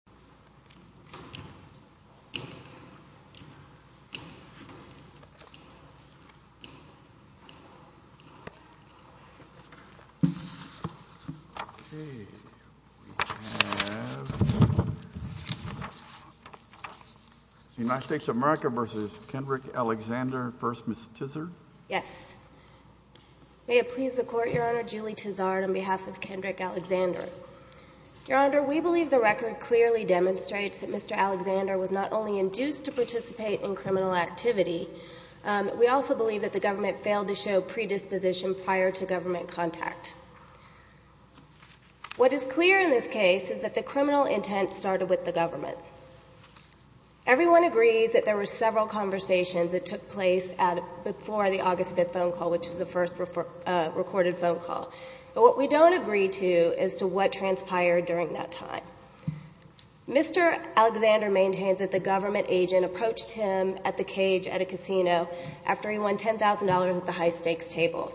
v. Ms. Tizard? Yes. May it please the Court, Your Honor, Julie Tizard on behalf of Kendrick Alexander. Your Honor, we believe the record clearly demonstrates that Mr. Alexander was not only induced to participate in criminal activity, we also believe that the government failed to show predisposition prior to government contact. What is clear in this case is that the criminal intent started with the government. Everyone agrees that there were several conversations that took place before the August 5th phone call, but what we don't agree to is to what transpired during that time. Mr. Alexander maintains that the government agent approached him at the cage at a casino after he won $10,000 at the high-stakes table.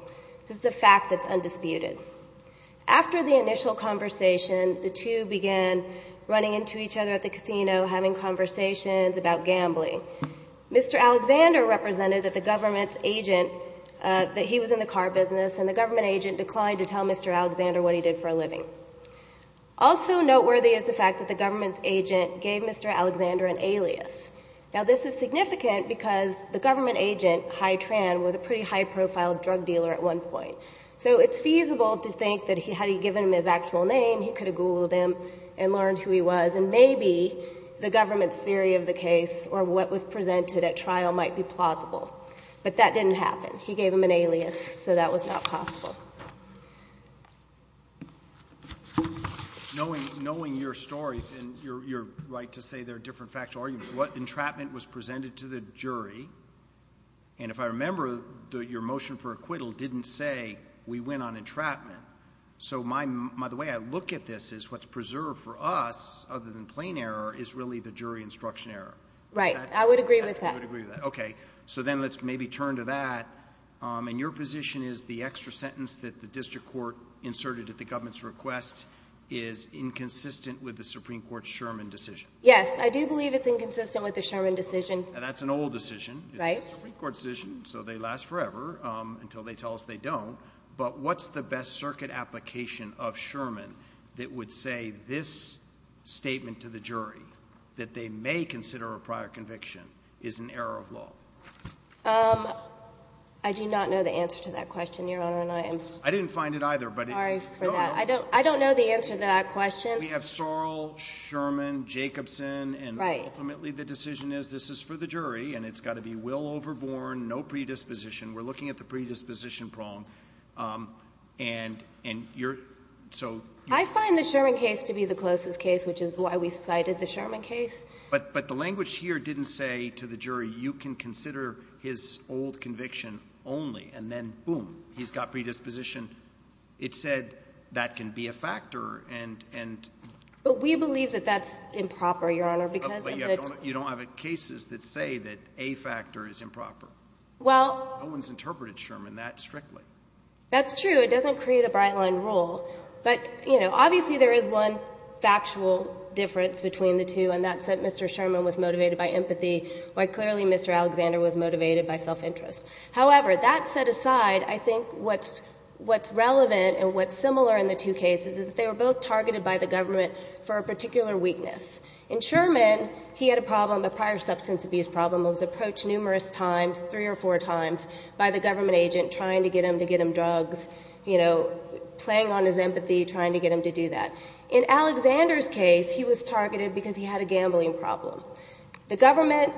This is a fact that's undisputed. After the initial conversation, the two began running into each other at the casino, having conversations about gambling. Mr. Alexander represented that the government's agent, that he was in the car business, and the government agent declined to tell Mr. Alexander what he did for a living. Also noteworthy is the fact that the government's agent gave Mr. Alexander an alias. Now, this is significant because the government agent, High Tran, was a pretty high-profile drug dealer at one point. So it's feasible to think that had he given him his actual name, he could have Googled him and learned who he was, and maybe the government's theory of the case or what was presented at trial might be plausible. But that didn't happen. He gave him an alias, so that was not possible. Knowing your story, and you're right to say there are different factual arguments, what entrapment was presented to the jury? And if I remember, your motion for acquittal didn't say we went on entrapment. So the way I look at this is what's preserved for us, other than plain error, is really the jury instruction error. Right. I would agree with that. I would agree with that. Okay. So then let's maybe turn to that. And your position is the extra sentence that the district court inserted at the government's request is inconsistent with the Supreme Court's Sherman decision. Yes. I do believe it's inconsistent with the Sherman decision. That's an old decision. Right. It's a Supreme Court decision, so they last forever until they tell us they don't. But what's the best circuit application of Sherman that would say this statement to the jury, that they may consider a prior conviction, is an error of law? I do not know the answer to that question, Your Honor, and I am sorry for that. I didn't find it either, but it goes on. I don't know the answer to that question. We have Sorrell, Sherman, Jacobson, and ultimately the decision is this is for the jury, and it's got to be will overborne, no predisposition. We're looking at the predisposition prong. And you're so you're so you're so you're so you're so you're so you're so you're But, but the language here didn't say to the jury, you can consider his old conviction only, and then, boom, he's got predisposition, it said that can be a factor, and the jury, you can consider this old conviction only, and then, boom, he's got predisposition, it said that can be a factor, and the jury, you can consider this old conviction it was motivated by empathy, why clearly, Mr. Alexander was motivated by self-interest. However, that set aside, I think what's, what's relevant and what's similar in the two cases is that they were both targeted by the government for a particular weakness. In Sherman, he had a problem, a prior substance abuse problem, was approached numerous times, three or four times, by the government agent, trying to get him to get him drugs, you know, playing on his empathy trying to get him to do that. In Alexander's case, he was targeted because he had a gambling problem. The government,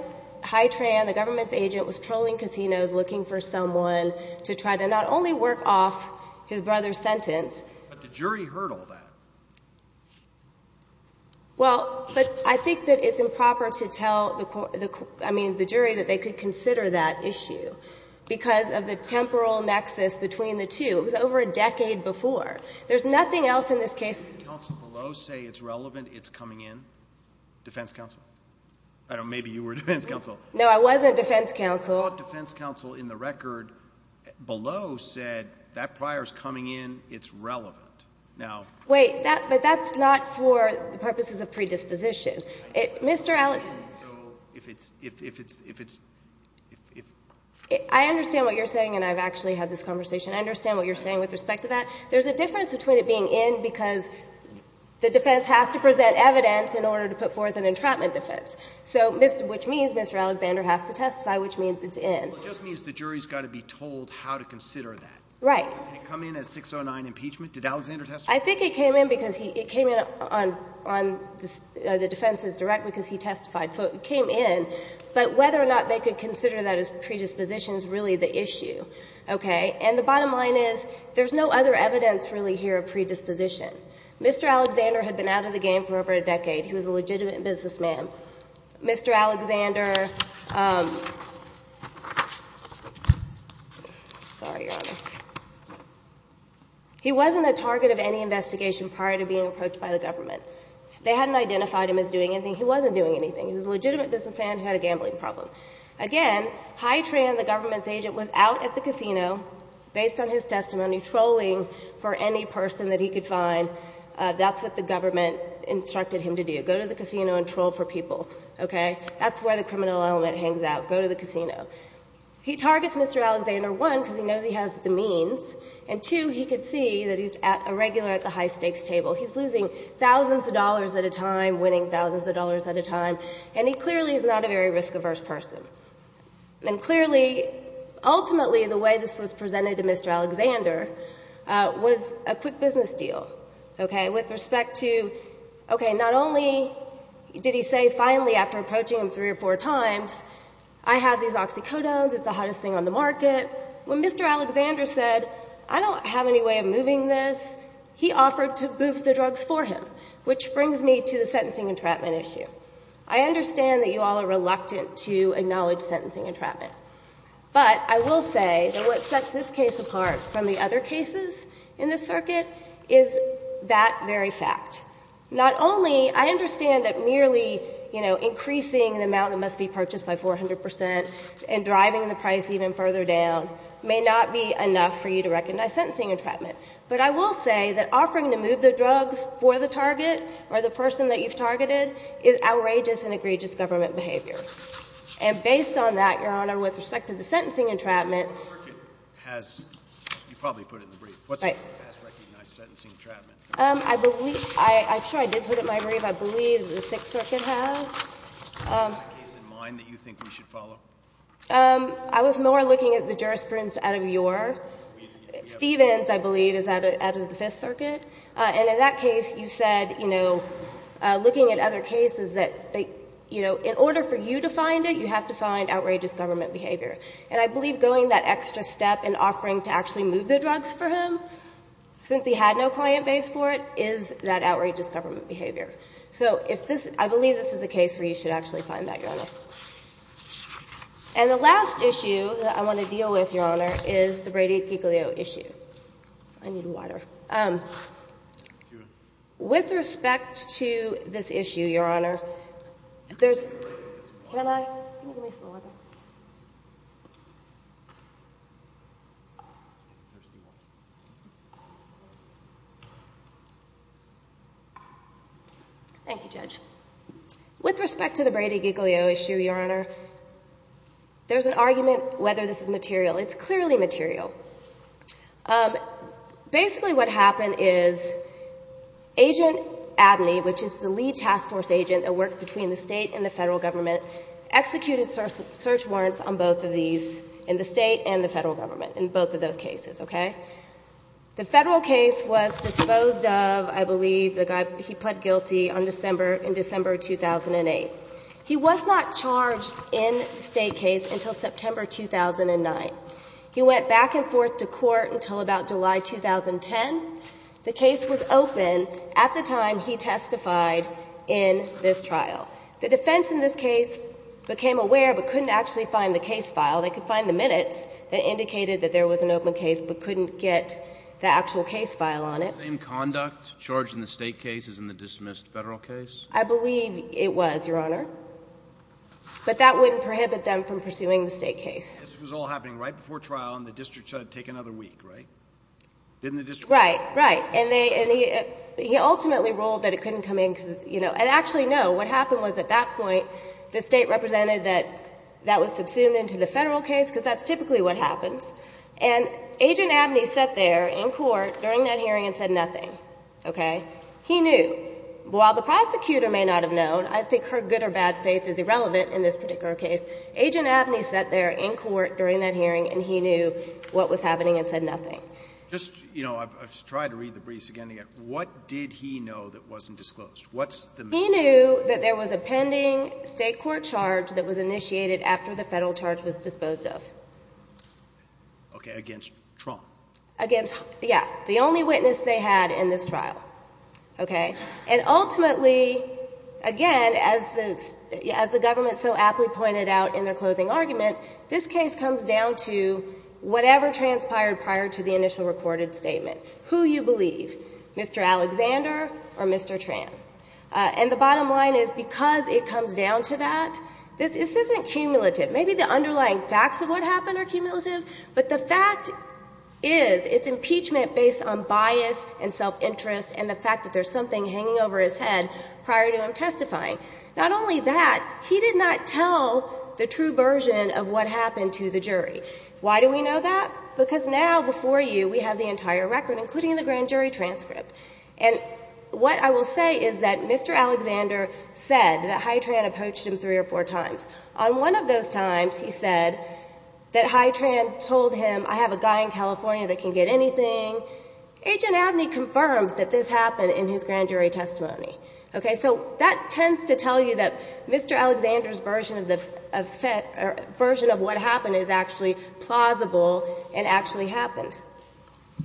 HITRAN, the government's agent was trolling casinos looking for someone to try to not only work off his brother's sentence. But the jury heard all that. Well, but I think that it's improper to tell the court, I mean, the jury, that they could consider that issue because of the temporal nexus between the two. It was over a decade before. There's nothing else in this case. The defense counsel below say it's relevant, it's coming in? Defense counsel? I don't know. Maybe you were defense counsel. No, I wasn't defense counsel. The defense counsel in the record below said that prior is coming in, it's relevant. Now ---- Wait. That's not for purposes of predisposition. Mr. Allen. So if it's, if it's, if it's, if it's ---- I understand what you're saying, and I've actually had this conversation. I understand what you're saying with respect to that. There's a difference between it being in because the defense has to present evidence in order to put forth an entrapment defense. So Mr. ---- which means Mr. Alexander has to testify, which means it's in. Well, it just means the jury's got to be told how to consider that. Right. Did it come in as 609 impeachment? Did Alexander testify? I think it came in because he, it came in on, on the defense's direct because he testified. So it came in. But whether or not they could consider that as predisposition is really the issue. Okay? And the bottom line is there's no other evidence really here of predisposition. Mr. Alexander had been out of the game for over a decade. He was a legitimate businessman. Mr. Alexander ---- sorry, Your Honor. He wasn't a target of any investigation prior to being approached by the government. They hadn't identified him as doing anything. He wasn't doing anything. He was a legitimate businessman who had a gambling problem. Again, Hy-Tran, the government's agent, was out at the casino, based on his testimony, trolling for any person that he could find. That's what the government instructed him to do, go to the casino and troll for people. Okay? That's where the criminal element hangs out, go to the casino. He targets Mr. Alexander, one, because he knows he has the means, and two, he could see that he's a regular at the high-stakes table. He's losing thousands of dollars at a time, winning thousands of dollars at a time, and he clearly is not a very risk-averse person. And clearly, ultimately, the way this was presented to Mr. Alexander was a quick business deal. Okay? With respect to, okay, not only did he say finally, after approaching him three or four times, I have these oxycodones, it's the hottest thing on the market. When Mr. Alexander said, I don't have any way of moving this, he offered to boof the drugs for him, which brings me to the sentencing entrapment issue. I understand that you all are reluctant to acknowledge sentencing entrapment. But I will say that what sets this case apart from the other cases in this circuit is that very fact. Not only, I understand that merely, you know, increasing the amount that must be purchased by 400 percent and driving the price even further down may not be enough for you to recognize sentencing entrapment, but I will say that offering to move the drugs for the target or the person that you've targeted is outrageous and egregious government behavior. And based on that, Your Honor, with respect to the sentencing entrapment What circuit has you probably put in the brief? What circuit has recognized sentencing entrapment? I believe — I'm sure I did put it in my brief. I believe the Sixth Circuit has. Is that case in mind that you think we should follow? I was more looking at the jurisprudence out of your — We have a case. Stevens, I believe, is out of the Fifth Circuit. And in that case, you said, you know, looking at other cases, that, you know, in order for you to find it, you have to find outrageous government behavior. And I believe going that extra step in offering to actually move the drugs for him, since he had no client base for it, is that outrageous government behavior. So if this — I believe this is a case where you should actually find that, Your Honor. And the last issue that I want to deal with, Your Honor, is the Brady-Piccolio issue. I need water. With respect to this issue, Your Honor, there's — Can I — can you give me some water? Thank you, Judge. With respect to the Brady-Piccolio issue, Your Honor, there's an argument whether this is material. It's clearly material. Basically, what happened is Agent Abney, which is the lead task force agent that worked between the State and the Federal Government, executed search warrants on both of these, in the State and the Federal Government, in both of those cases. Okay? The Federal case was disposed of, I believe, the guy — he pled guilty on December — in December 2008. He was not charged in the State case until September 2009. He went back and forth to court until about July 2010. The case was open at the time he testified in this trial. The defense in this case became aware but couldn't actually find the case file. They could find the minutes that indicated that there was an open case but couldn't get the actual case file on it. Was the same conduct charged in the State case as in the dismissed Federal case? I believe it was, Your Honor. But that wouldn't prohibit them from pursuing the State case. This was all happening right before trial, and the district said, take another week, right? Didn't the district rule that? Right. Right. And they — and he ultimately ruled that it couldn't come in because, you know. And actually, no. What happened was at that point, the State represented that that was subsumed into the Federal case, because that's typically what happens. And Agent Abney sat there in court during that hearing and said nothing. Okay? He knew. While the prosecutor may not have known — I think her good or bad faith is irrelevant in this particular case. Agent Abney sat there in court during that hearing and he knew what was happening and said nothing. Just, you know, I've tried to read the briefs again and again. What did he know that wasn't disclosed? What's the meaning? He knew that there was a pending State court charge that was initiated after the Federal charge was disposed of. Okay. Against Trump. Against — yeah. The only witness they had in this trial. Okay? And ultimately, again, as the — as the government so aptly pointed out in their closing argument, this case comes down to whatever transpired prior to the initial recorded statement. Who you believe, Mr. Alexander or Mr. Tran. And the bottom line is because it comes down to that, this isn't cumulative. Maybe the underlying facts of what happened are cumulative, but the fact is it's still not a cumulative case. the fact that Mr. Alexander said something hanging over his head prior to him testifying. Not only that, he did not tell the true version of what happened to the jury. Why do we know that? Because now before you we have the entire record, including the grand jury transcript. And what I will say is that Mr. Alexander said that Hytran approached him three or four times. On one of those times, he said that Hytran told him, I have a guy in California that can get anything. Agent Abney confirms that this happened in his grand jury testimony. Okay? So that tends to tell you that Mr. Alexander's version of what happened is actually plausible and actually happened.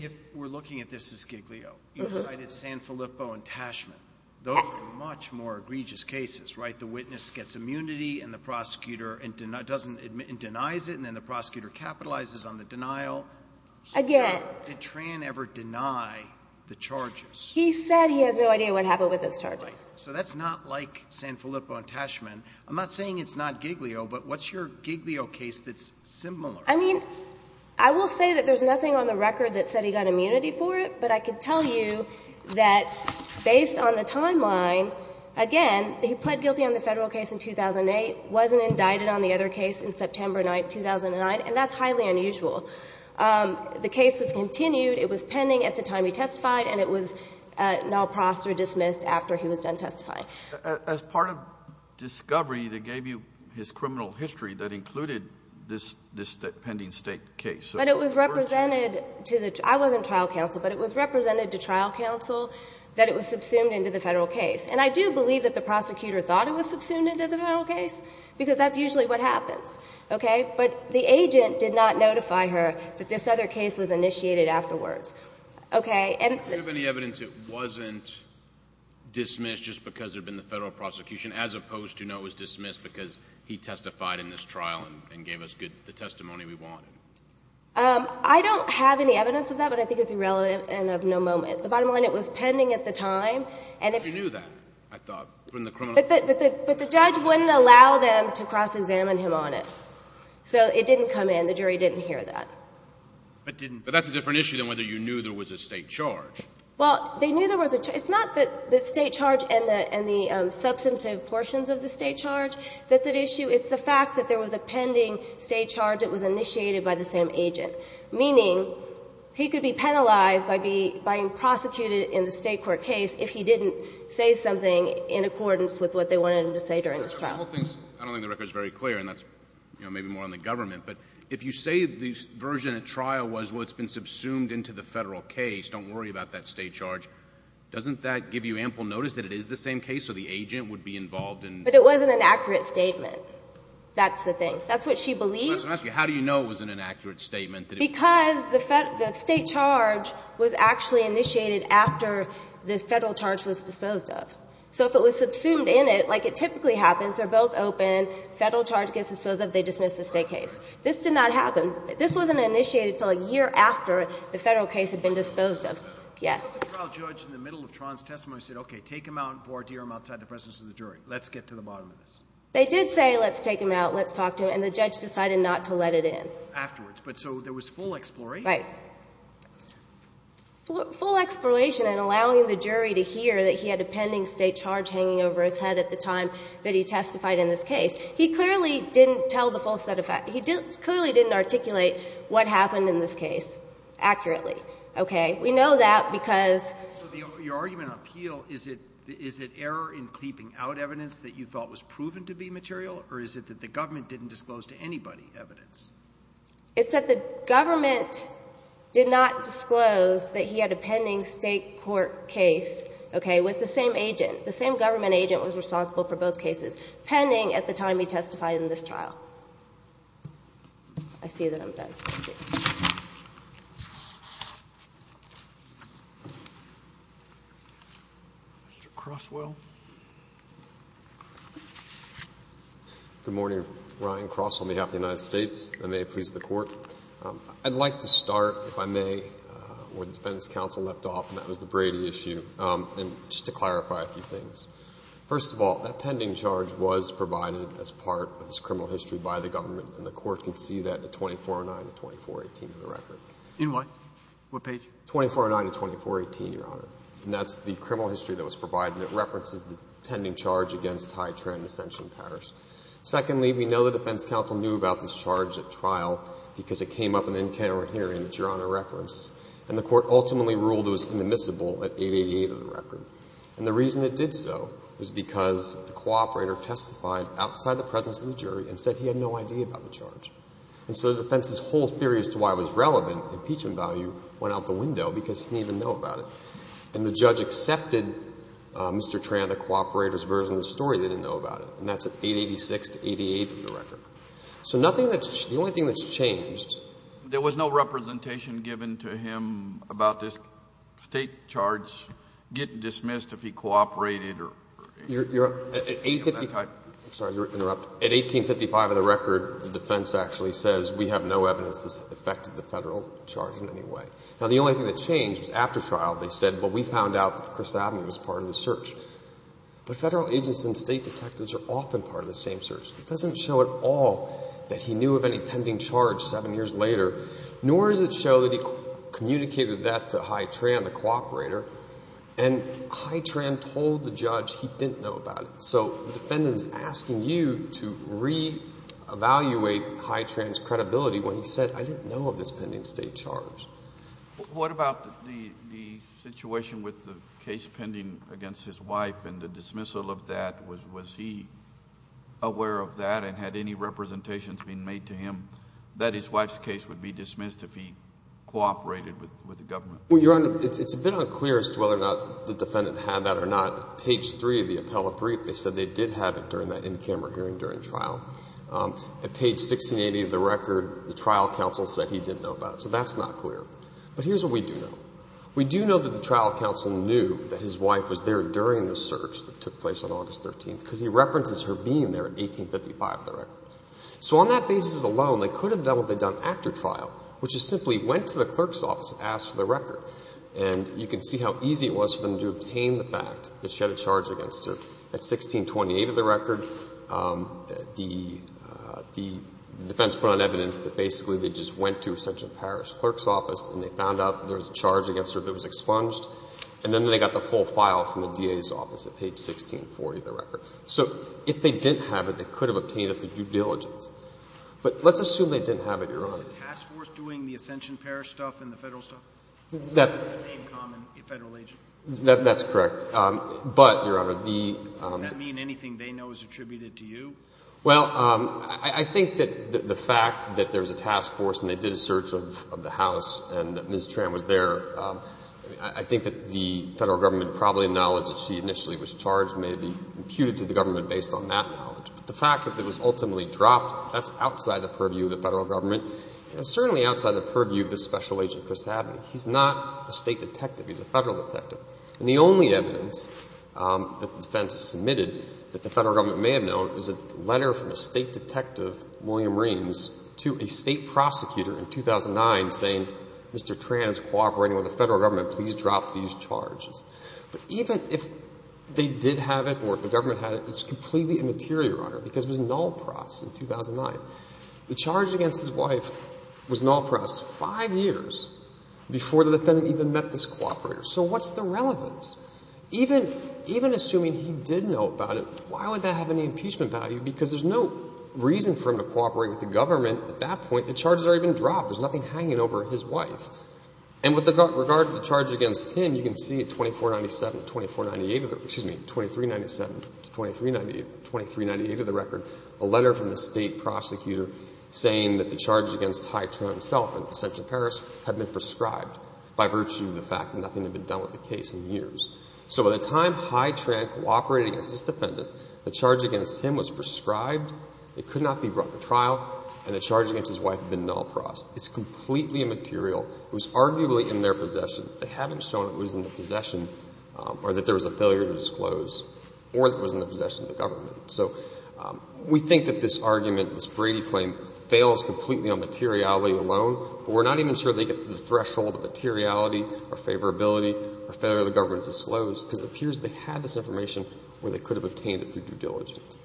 If we're looking at this as Giglio, you cited San Filippo and Tashman. Those are much more egregious cases, right? The witness gets immunity and the prosecutor denies it and then the prosecutor capitalizes on the denial. Again. Did Hytran ever deny the charges? He said he has no idea what happened with those charges. Right. So that's not like San Filippo and Tashman. I'm not saying it's not Giglio, but what's your Giglio case that's similar? I mean, I will say that there's nothing on the record that said he got immunity for it, but I could tell you that based on the timeline, again, he pled guilty on the Federal case in 2008, wasn't indicted on the other case in September 9th, 2009, and that's highly unusual. The case was continued. It was pending at the time he testified, and it was null prost or dismissed after he was done testifying. As part of discovery, they gave you his criminal history that included this pending State case. But it was represented to the – I wasn't trial counsel, but it was represented to trial counsel that it was subsumed into the Federal case. And I do believe that the prosecutor thought it was subsumed into the Federal case, because that's usually what happens. Okay? But the agent did not notify her that this other case was initiated afterwards. Okay? And the – Do you have any evidence it wasn't dismissed just because there had been the Federal prosecution, as opposed to no, it was dismissed because he testified in this trial and gave us the testimony we wanted? I don't have any evidence of that, but I think it's irrelevant and of no moment. The bottom line, it was pending at the time, and if you – But the judge wouldn't allow them to cross-examine him on it. So it didn't come in. The jury didn't hear that. But didn't – But that's a different issue than whether you knew there was a State charge. Well, they knew there was a – it's not the State charge and the substantive portions of the State charge that's at issue. It's the fact that there was a pending State charge that was initiated by the same agent, meaning he could be penalized by being prosecuted in the State court case if he didn't say something in accordance with what they wanted him to say during this trial. I don't think the record is very clear, and that's maybe more on the government. But if you say the version of trial was what's been subsumed into the Federal case, don't worry about that State charge, doesn't that give you ample notice that it is the same case, so the agent would be involved in – But it wasn't an accurate statement. That's the thing. That's what she believed. I'm asking you, how do you know it wasn't an accurate statement? Because the State charge was actually initiated after the Federal charge was disposed of. So if it was subsumed in it, like it typically happens, they're both open, Federal charge gets disposed of, they dismiss the State case. This did not happen. This wasn't initiated until a year after the Federal case had been disposed of. Yes. The trial judge in the middle of Tron's testimony said, okay, take him out and board him outside the presence of the jury. Let's get to the bottom of this. They did say, let's take him out, let's talk to him, and the judge decided not to let it in. Afterwards. But so there was full exploration. Right. Full exploration and allowing the jury to hear that he had a pending State charge hanging over his head at the time that he testified in this case. He clearly didn't tell the full set of facts. He clearly didn't articulate what happened in this case accurately. Okay? We know that because – So your argument on Peel, is it error in creeping out evidence that you thought was proven to be material, or is it that the government didn't disclose to anybody the evidence? It's that the government did not disclose that he had a pending State court case, okay, with the same agent. The same government agent was responsible for both cases, pending at the time he testified in this trial. I see that I'm done. Thank you. Mr. Crosswell. Good morning. Ryan Cross on behalf of the United States. And may it please the Court. I'd like to start, if I may, where the Defendant's counsel left off, and that was the Brady issue. And just to clarify a few things. First of all, that pending charge was provided as part of this criminal history by the government, and the Court can see that at 2409 to 2418 in the record. In what? What page? 2409 to 2418, Your Honor. And that's the criminal history that was provided, and it references the pending charge against Ty Tran and Ascension Parrish. Secondly, we know the defense counsel knew about this charge at trial because it came up in the in-counter hearing that Your Honor referenced, and the Court ultimately ruled it was inadmissible at 888 of the record. And the reason it did so was because the cooperator testified outside the presence of the jury and said he had no idea about the charge. And so the defense's whole theory as to why it was relevant, impeachment value, went out the window because he didn't even know about it. And the judge accepted Mr. Tran, the cooperator's version of the story, they didn't know about it. And that's at 886 to 88 of the record. So nothing that's the only thing that's changed. There was no representation given to him about this State charge getting dismissed if he cooperated or anything of that type? Your Honor, at 1855 of the record, the defense actually says we have no evidence that this has affected the Federal charge in any way. Now, the only thing that changed was after trial they said, well, we found out that Chris Abney was part of the search. But Federal agents and State detectives are often part of the same search. It doesn't show at all that he knew of any pending charge seven years later, nor does it show that he communicated that to High Tran, the cooperator. And High Tran told the judge he didn't know about it. So the defendant is asking you to reevaluate High Tran's credibility when he said, I didn't know of this pending State charge. What about the situation with the case pending against his wife and the dismissal of that? Was he aware of that and had any representations been made to him that his wife's case would be dismissed if he cooperated with the government? Your Honor, it's a bit unclear as to whether or not the defendant had that or not. Page three of the appellate brief, they said they did have it during that in-camera hearing during trial. At page 1680 of the record, the trial counsel said he didn't know about it. So that's not clear. But here's what we do know. We do know that the trial counsel knew that his wife was there during the search that took place on August 13th because he references her being there in 1855 of the record. So on that basis alone, they could have done what they've done after trial, which is simply went to the clerk's office and asked for the record. And you can see how easy it was for them to obtain the fact that she had a charge against her. At 1628 of the record, the defense put on evidence that basically they just went to Ascension Parish clerk's office and they found out there was a charge against her that was expunged, and then they got the full file from the DA's office at page 1640 of the record. So if they didn't have it, they could have obtained it through due diligence. But let's assume they didn't have it, Your Honor. The task force doing the Ascension Parish stuff and the Federal stuff? The same common Federal agent. That's correct. But, Your Honor, the — Does that mean anything they know is attributed to you? Well, I think that the fact that there's a task force and they did a search of the house and Ms. Tran was there, I think that the Federal government probably acknowledged that she initially was charged, maybe imputed to the government based on that knowledge. But the fact that it was ultimately dropped, that's outside the purview of the Federal government and certainly outside the purview of the special agent, Chris Hadley. He's not a State detective. He's a Federal detective. And the only evidence that the defense has submitted that the Federal government may have known is a letter from a State detective, William Reams, to a State prosecutor in 2009 saying, Mr. Tran is cooperating with the Federal government. Please drop these charges. But even if they did have it or if the government had it, it's completely immaterial, Your Honor, because it was null pros in 2009. The charge against his wife was null pros five years before the defendant even met this cooperator. So what's the relevance? Even assuming he did know about it, why would that have any impeachment value? Because there's no reason for him to cooperate with the government at that point. The charges are even dropped. There's nothing hanging over his wife. And with regard to the charge against him, you can see at 2497, 2498, excuse me, 2397 to 2398 of the record, a letter from the State prosecutor saying that the charges against Hy Tran himself in Central Paris had been prescribed by virtue of the fact that nothing had been done with the case in years. So by the time Hy Tran cooperated against this defendant, the charge against him was prescribed. It could not be brought to trial. And the charge against his wife had been null pros. It's completely immaterial. It was arguably in their possession. They haven't shown it was in their possession or that there was a failure to disclose or that it was in the possession of the government. So we think that this argument, this Brady claim, fails completely on materiality alone, but we're not even sure they get to the threshold of materiality or favorability or failure of the government to disclose because it appears they had this information where they could have obtained it through due diligence.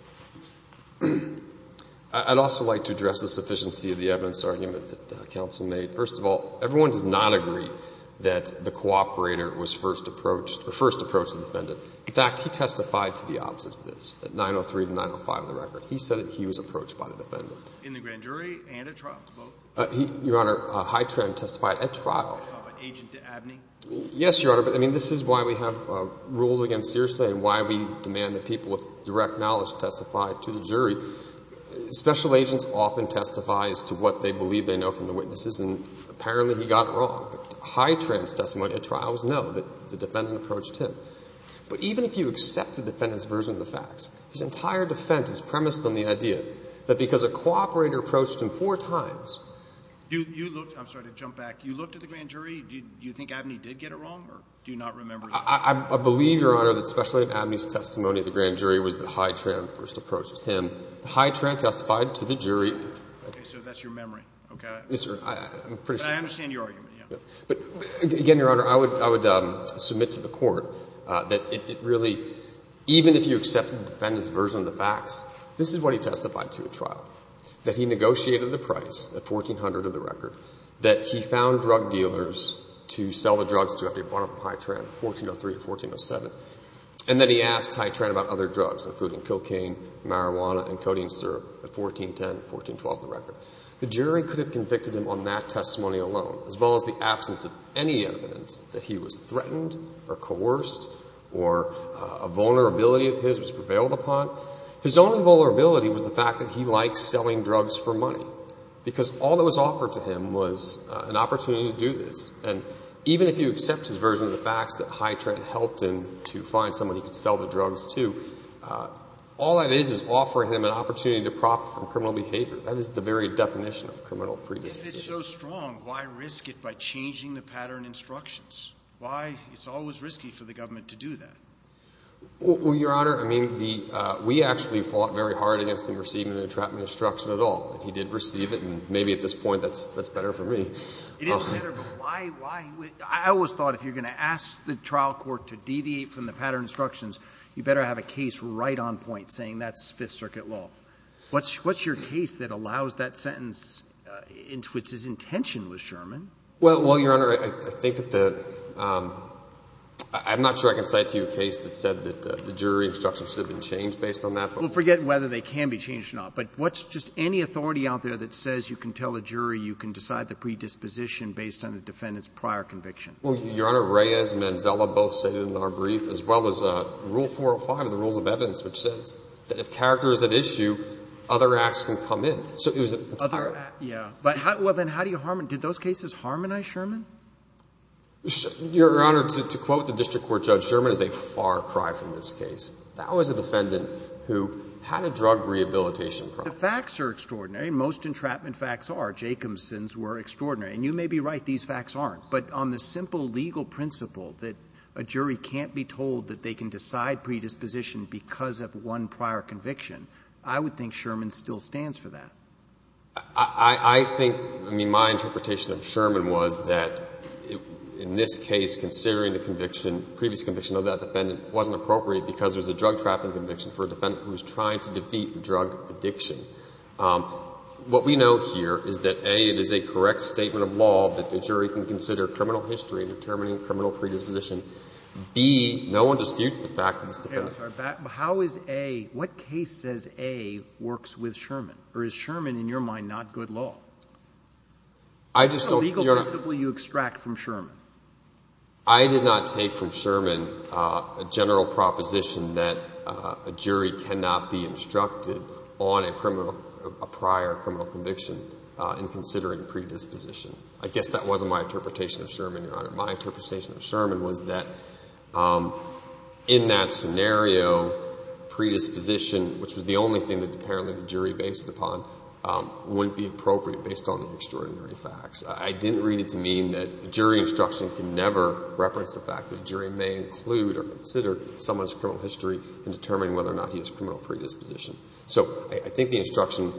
I'd also like to address the sufficiency of the evidence argument that the counsel made. First of all, everyone does not agree that the cooperator was first approached or first approached the defendant. In fact, he testified to the opposite of this at 903 to 905 of the record. He said that he was approached by the defendant. In the grand jury and at trial, both? Your Honor, Hy Tran testified at trial. At trial by agent to Abney? Yes, Your Honor, but I mean, this is why we have rules against Searcy and why we demand that people with direct knowledge testify to the jury. Special agents often testify as to what they believe they know from the witnesses and apparently he got it wrong. But Hy Tran's testimony at trial was no, that the defendant approached him. But even if you accept the defendant's version of the facts, his entire defense is premised on the idea that because a cooperator approached him four times. You looked – I'm sorry to jump back. You looked at the grand jury? Do you think Abney did get it wrong or do you not remember? I believe, Your Honor, that Special Agent Abney's testimony at the grand jury was that Hy Tran first approached him. Hy Tran testified to the jury. Okay. So that's your memory. Okay. Yes, sir. I'm pretty sure. But I understand your argument, yeah. But again, Your Honor, I would submit to the Court that it really – even if you accepted the defendant's version of the facts, this is what he testified to at trial, that he negotiated the price, the $1,400 of the record, that he found drug dealers to sell the drugs to after he bought them from Hy Tran, 1403 or 1407, and that he asked Hy Tran about other drugs, including cocaine, marijuana, and codeine syrup at 1410 and 1412 of the record. The jury could have convicted him on that testimony alone, as well as the absence of any evidence that he was threatened or coerced or a vulnerability of his was prevailed upon. His only vulnerability was the fact that he liked selling drugs for money because all that was offered to him was an opportunity to do this. And even if you accept his version of the facts that Hy Tran helped him to find someone he could sell the drugs to, all that is is offering him an opportunity to profit from criminal behavior. That is the very definition of criminal predisposition. But if it's so strong, why risk it by changing the pattern instructions? Why – it's always risky for the government to do that. Well, Your Honor, I mean, the – we actually fought very hard against him receiving the entrapment instruction at all. He did receive it, and maybe at this point that's better for me. It is better, but why – I always thought if you're going to ask the trial court to deviate from the pattern instructions, you better have a case right on point saying that's Fifth Circuit law. What's your case that allows that sentence in which his intention was Sherman? Well, Your Honor, I think that the – I'm not sure I can cite to you a case that said that the jury instruction should have been changed based on that. Well, forget whether they can be changed or not, but what's just any authority out there that says you can tell a jury you can decide the predisposition based on the defendant's prior conviction? Well, Your Honor, Reyes and Manzella both stated in our brief, as well as Rule 405 of the Rules of Evidence, which says that if character is at issue, other acts can come in. So it was – Other – yeah. But how – well, then how do you – did those cases harmonize Sherman? Your Honor, to quote the district court judge, Sherman is a far cry from this case. That was a defendant who had a drug rehabilitation problem. The facts are extraordinary. Most entrapment facts are. Jacobson's were extraordinary. And you may be right, these facts aren't. But on the simple legal principle that a jury can't be told that they can decide predisposition because of one prior conviction, I would think Sherman still stands for that. I think – I mean, my interpretation of Sherman was that in this case, considering the conviction, previous conviction of that defendant wasn't appropriate because it was a drug-trafficking conviction for a defendant who was trying to defeat drug addiction. What we know here is that, A, it is a correct statement of law that the jury can consider criminal history in determining criminal predisposition. B, no one disputes the fact that this defendant – Okay. I'm sorry. How is A – what case says A works with Sherman? Or is Sherman, in your mind, not good law? I just don't – Your Honor – What is the legal principle you extract from Sherman? I did not take from Sherman a general proposition that a jury cannot be instructed on a criminal – a prior criminal conviction in considering predisposition. I guess that wasn't my interpretation of Sherman, Your Honor. My interpretation of Sherman was that in that scenario, predisposition, which was the only thing that apparently the jury based upon, wouldn't be appropriate based on the extraordinary facts. I didn't read it to mean that jury instruction can never reference the fact that a jury may include or consider someone's criminal history in determining whether or not he has criminal predisposition. So I think the instruction – Do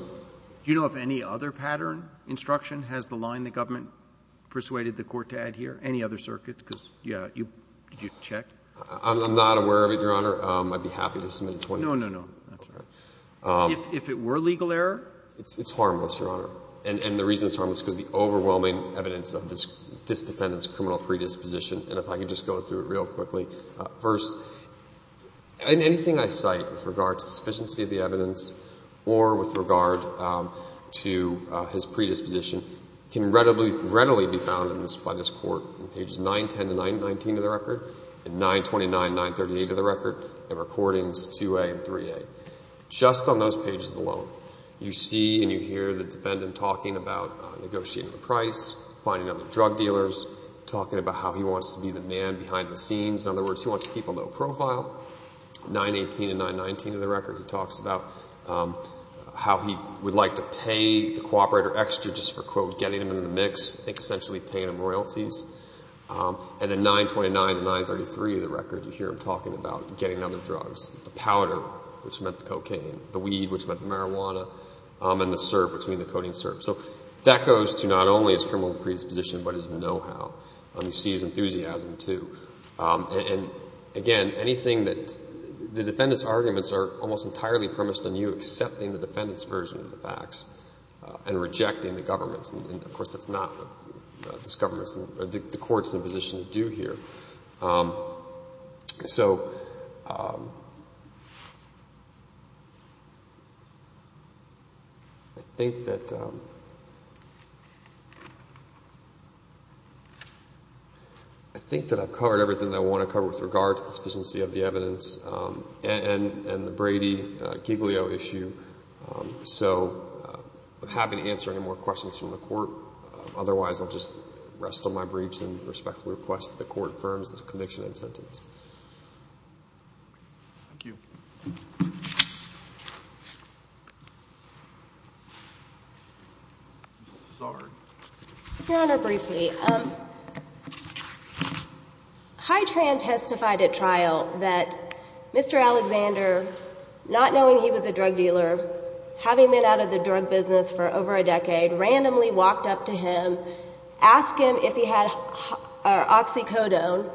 you know of any other pattern? Instruction? Has the line the government persuaded the Court to add here? Any other circuit? Because, yeah, you – did you check? I'm not aware of it, Your Honor. I'd be happy to submit a 20-page – No, no, no. That's all right. If it were legal error? It's harmless, Your Honor. And the reason it's harmless is because of the overwhelming evidence of this defendant's criminal predisposition. And if I could just go through it real quickly. First, anything I cite with regard to sufficiency of the evidence or with regard to his predisposition can readily be found by this Court in pages 910 to 919 of the record, and 929, 938 of the record, and Recordings 2A and 3A. Just on those pages alone, you see and you hear the defendant talking about negotiating the price, finding other drug dealers, talking about how he wants to be the man behind the scenes. In other words, he wants to keep a low profile. 918 and 919 of the record, he talks about how he would like to pay the cooperator extra just for, quote, getting him in the mix. I think essentially paying him royalties. And then 929 and 933 of the record, you hear him talking about getting other drugs, the powder, which meant the cocaine, the weed, which meant the marijuana, and the syrup, which meant the coding syrup. So that goes to not only his criminal predisposition but his know-how. And you see his enthusiasm, too. And, again, anything that the defendant's arguments are almost entirely premised on you accepting the defendant's version of the facts and rejecting the government's. And, of course, that's not what this government's or the Court's in a position to do here. So I think that I've covered everything that I want to cover with regard to the sufficiency of the evidence and the Brady-Giglio issue. So I'm happy to answer any more questions from the Court. Otherwise, I'll just rest on my briefs and respectfully request that the Court confirm this conviction and sentence. Thank you. Ms. Zard. Your Honor, briefly. Hytran testified at trial that Mr. Alexander, not knowing he was a drug dealer, having been out of the drug business for over a decade, randomly walked up to him, asked him if he had oxycodone,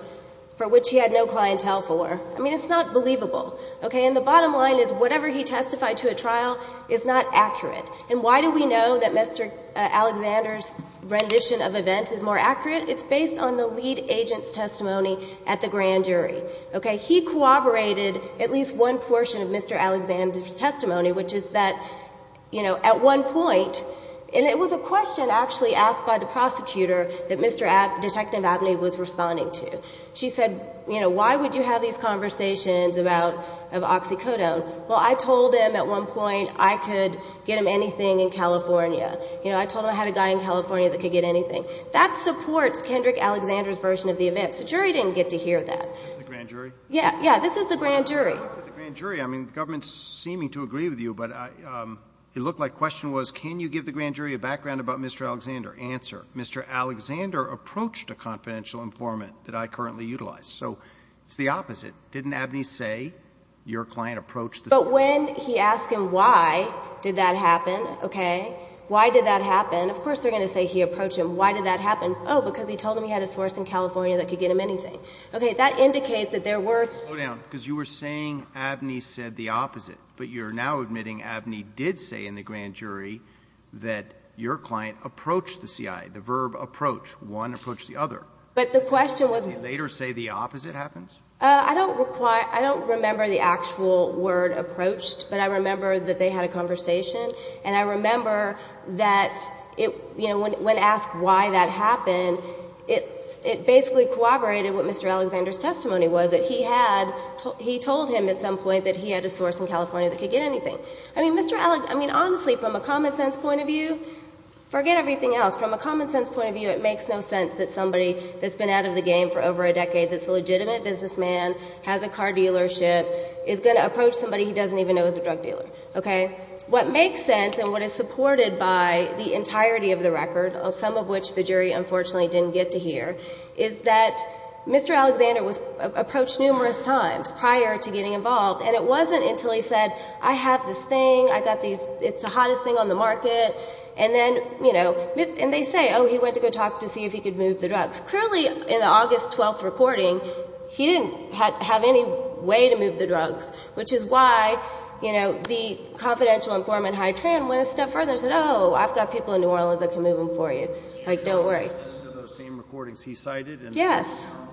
for which he had no clientele for. I mean, it's not believable. Okay? And the bottom line is whatever he testified to at trial is not accurate. And why do we know that Mr. Alexander's rendition of events is more accurate? It's based on the lead agent's testimony at the grand jury. Okay? He corroborated at least one portion of Mr. Alexander's testimony, which is that, you know, at one point, and it was a question actually asked by the prosecutor that Mr. Abney, Detective Abney, was responding to. She said, you know, why would you have these conversations about, of oxycodone? Well, I told him at one point I could get him anything in California. You know, I told him I had a guy in California that could get anything. That supports Kendrick Alexander's version of the events. The jury didn't get to hear that. This is the grand jury? Yeah. Yeah. This is the grand jury. I looked at the grand jury. I mean, the government's seeming to agree with you. But it looked like the question was, can you give the grand jury a background about Mr. Alexander? Answer, Mr. Alexander approached a confidential informant that I currently utilize. So it's the opposite. Didn't Abney say your client approached the grand jury? But when he asked him why did that happen, okay, why did that happen, of course they're going to say he approached him. Why did that happen? Oh, because he told him he had a source in California that could get him anything. That indicates that there were. Slow down. Because you were saying Abney said the opposite. But you're now admitting Abney did say in the grand jury that your client approached the C.I. The verb approach. One approached the other. But the question was. Did he later say the opposite happens? I don't require. I don't remember the actual word approached. But I remember that they had a conversation. And I remember that it, you know, when asked why that happened, it basically corroborated what Mr. Alexander's testimony was, that he had, he told him at some point that he had a source in California that could get anything. I mean, honestly, from a common sense point of view, forget everything else. From a common sense point of view, it makes no sense that somebody that's been out of the game for over a decade, that's a legitimate businessman, has a car dealership, is going to approach somebody he doesn't even know is a drug dealer, okay? What makes sense and what is supported by the entirety of the record, some of which the jury unfortunately didn't get to hear, is that Mr. Alexander was approached numerous times prior to getting involved. And it wasn't until he said, I have this thing, I got these, it's the hottest thing on the market. And then, you know, and they say, oh, he went to go talk to see if he could move the drugs. Clearly, in the August 12th reporting, he didn't have any way to move the drugs, which is why, you know, the confidential informant Hy-Tran went a step further and said, oh, I've got people in New Orleans that can move them for you. Like, don't worry.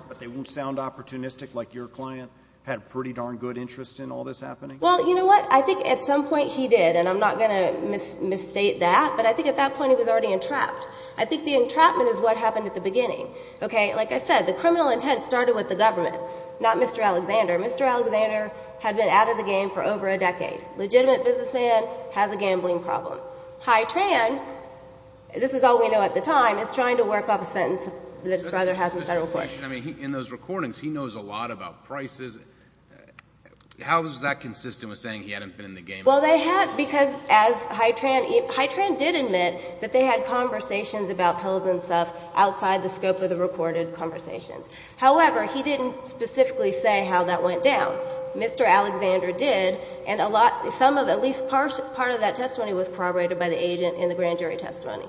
But they won't sound opportunistic, like your client had pretty darn good interest in all this happening? Well, you know what? I think at some point he did, and I'm not going to misstate that. But I think at that point he was already entrapped. I think the entrapment is what happened at the beginning, okay? Like I said, the criminal intent started with the government, not Mr. Alexander. Mr. Alexander had been out of the game for over a decade. Legitimate businessman, has a gambling problem. Hy-Tran, this is all we know at the time, is trying to work off a sentence that his brother has in federal court. I mean, in those recordings, he knows a lot about prices. How is that consistent with saying he hadn't been in the game? Well, they had, because as Hy-Tran, Hy-Tran did admit that they had conversations about pills and stuff outside the scope of the recorded conversations. However, he didn't specifically say how that went down. Mr. Alexander did. And a lot, some of, at least part of that testimony was corroborated by the agent in the grand jury testimony,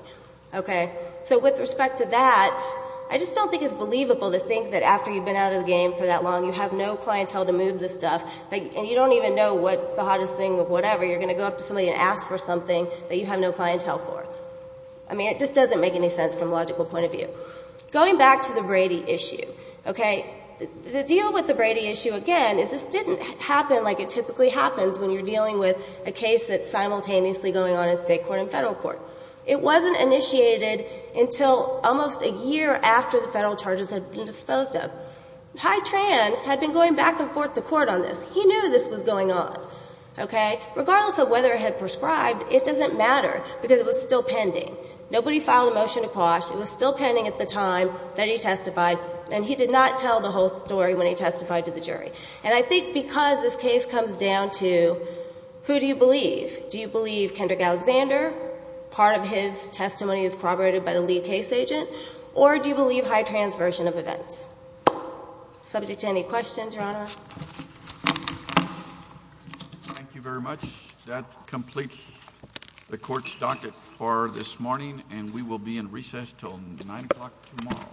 okay? So with respect to that, I just don't think it's believable to think that after you've been out of the game for that long, you have no clientele to move this stuff. And you don't even know what's the hottest thing or whatever. You're going to go up to somebody and ask for something that you have no clientele for. I mean, it just doesn't make any sense from a logical point of view. Going back to the Brady issue, okay, the deal with the Brady issue, again, is this didn't happen like it typically happens when you're dealing with a case that's simultaneously going on in State court and Federal court. It wasn't initiated until almost a year after the Federal charges had been disposed of. Hy-Tran had been going back and forth to court on this. He knew this was going on, okay? Regardless of whether it had prescribed, it doesn't matter, because it was still pending. Nobody filed a motion to quash. It was still pending at the time that he testified, and he did not tell the whole story when he testified to the jury. And I think because this case comes down to who do you believe? Do you believe Kendrick Alexander, part of his testimony is corroborated by the lead case agent, or do you believe Hy-Tran's version of events? Subject to any questions, Your Honor? Thank you very much. That completes the Court's docket for this morning, and we will be in recess until 9 o'clock tomorrow.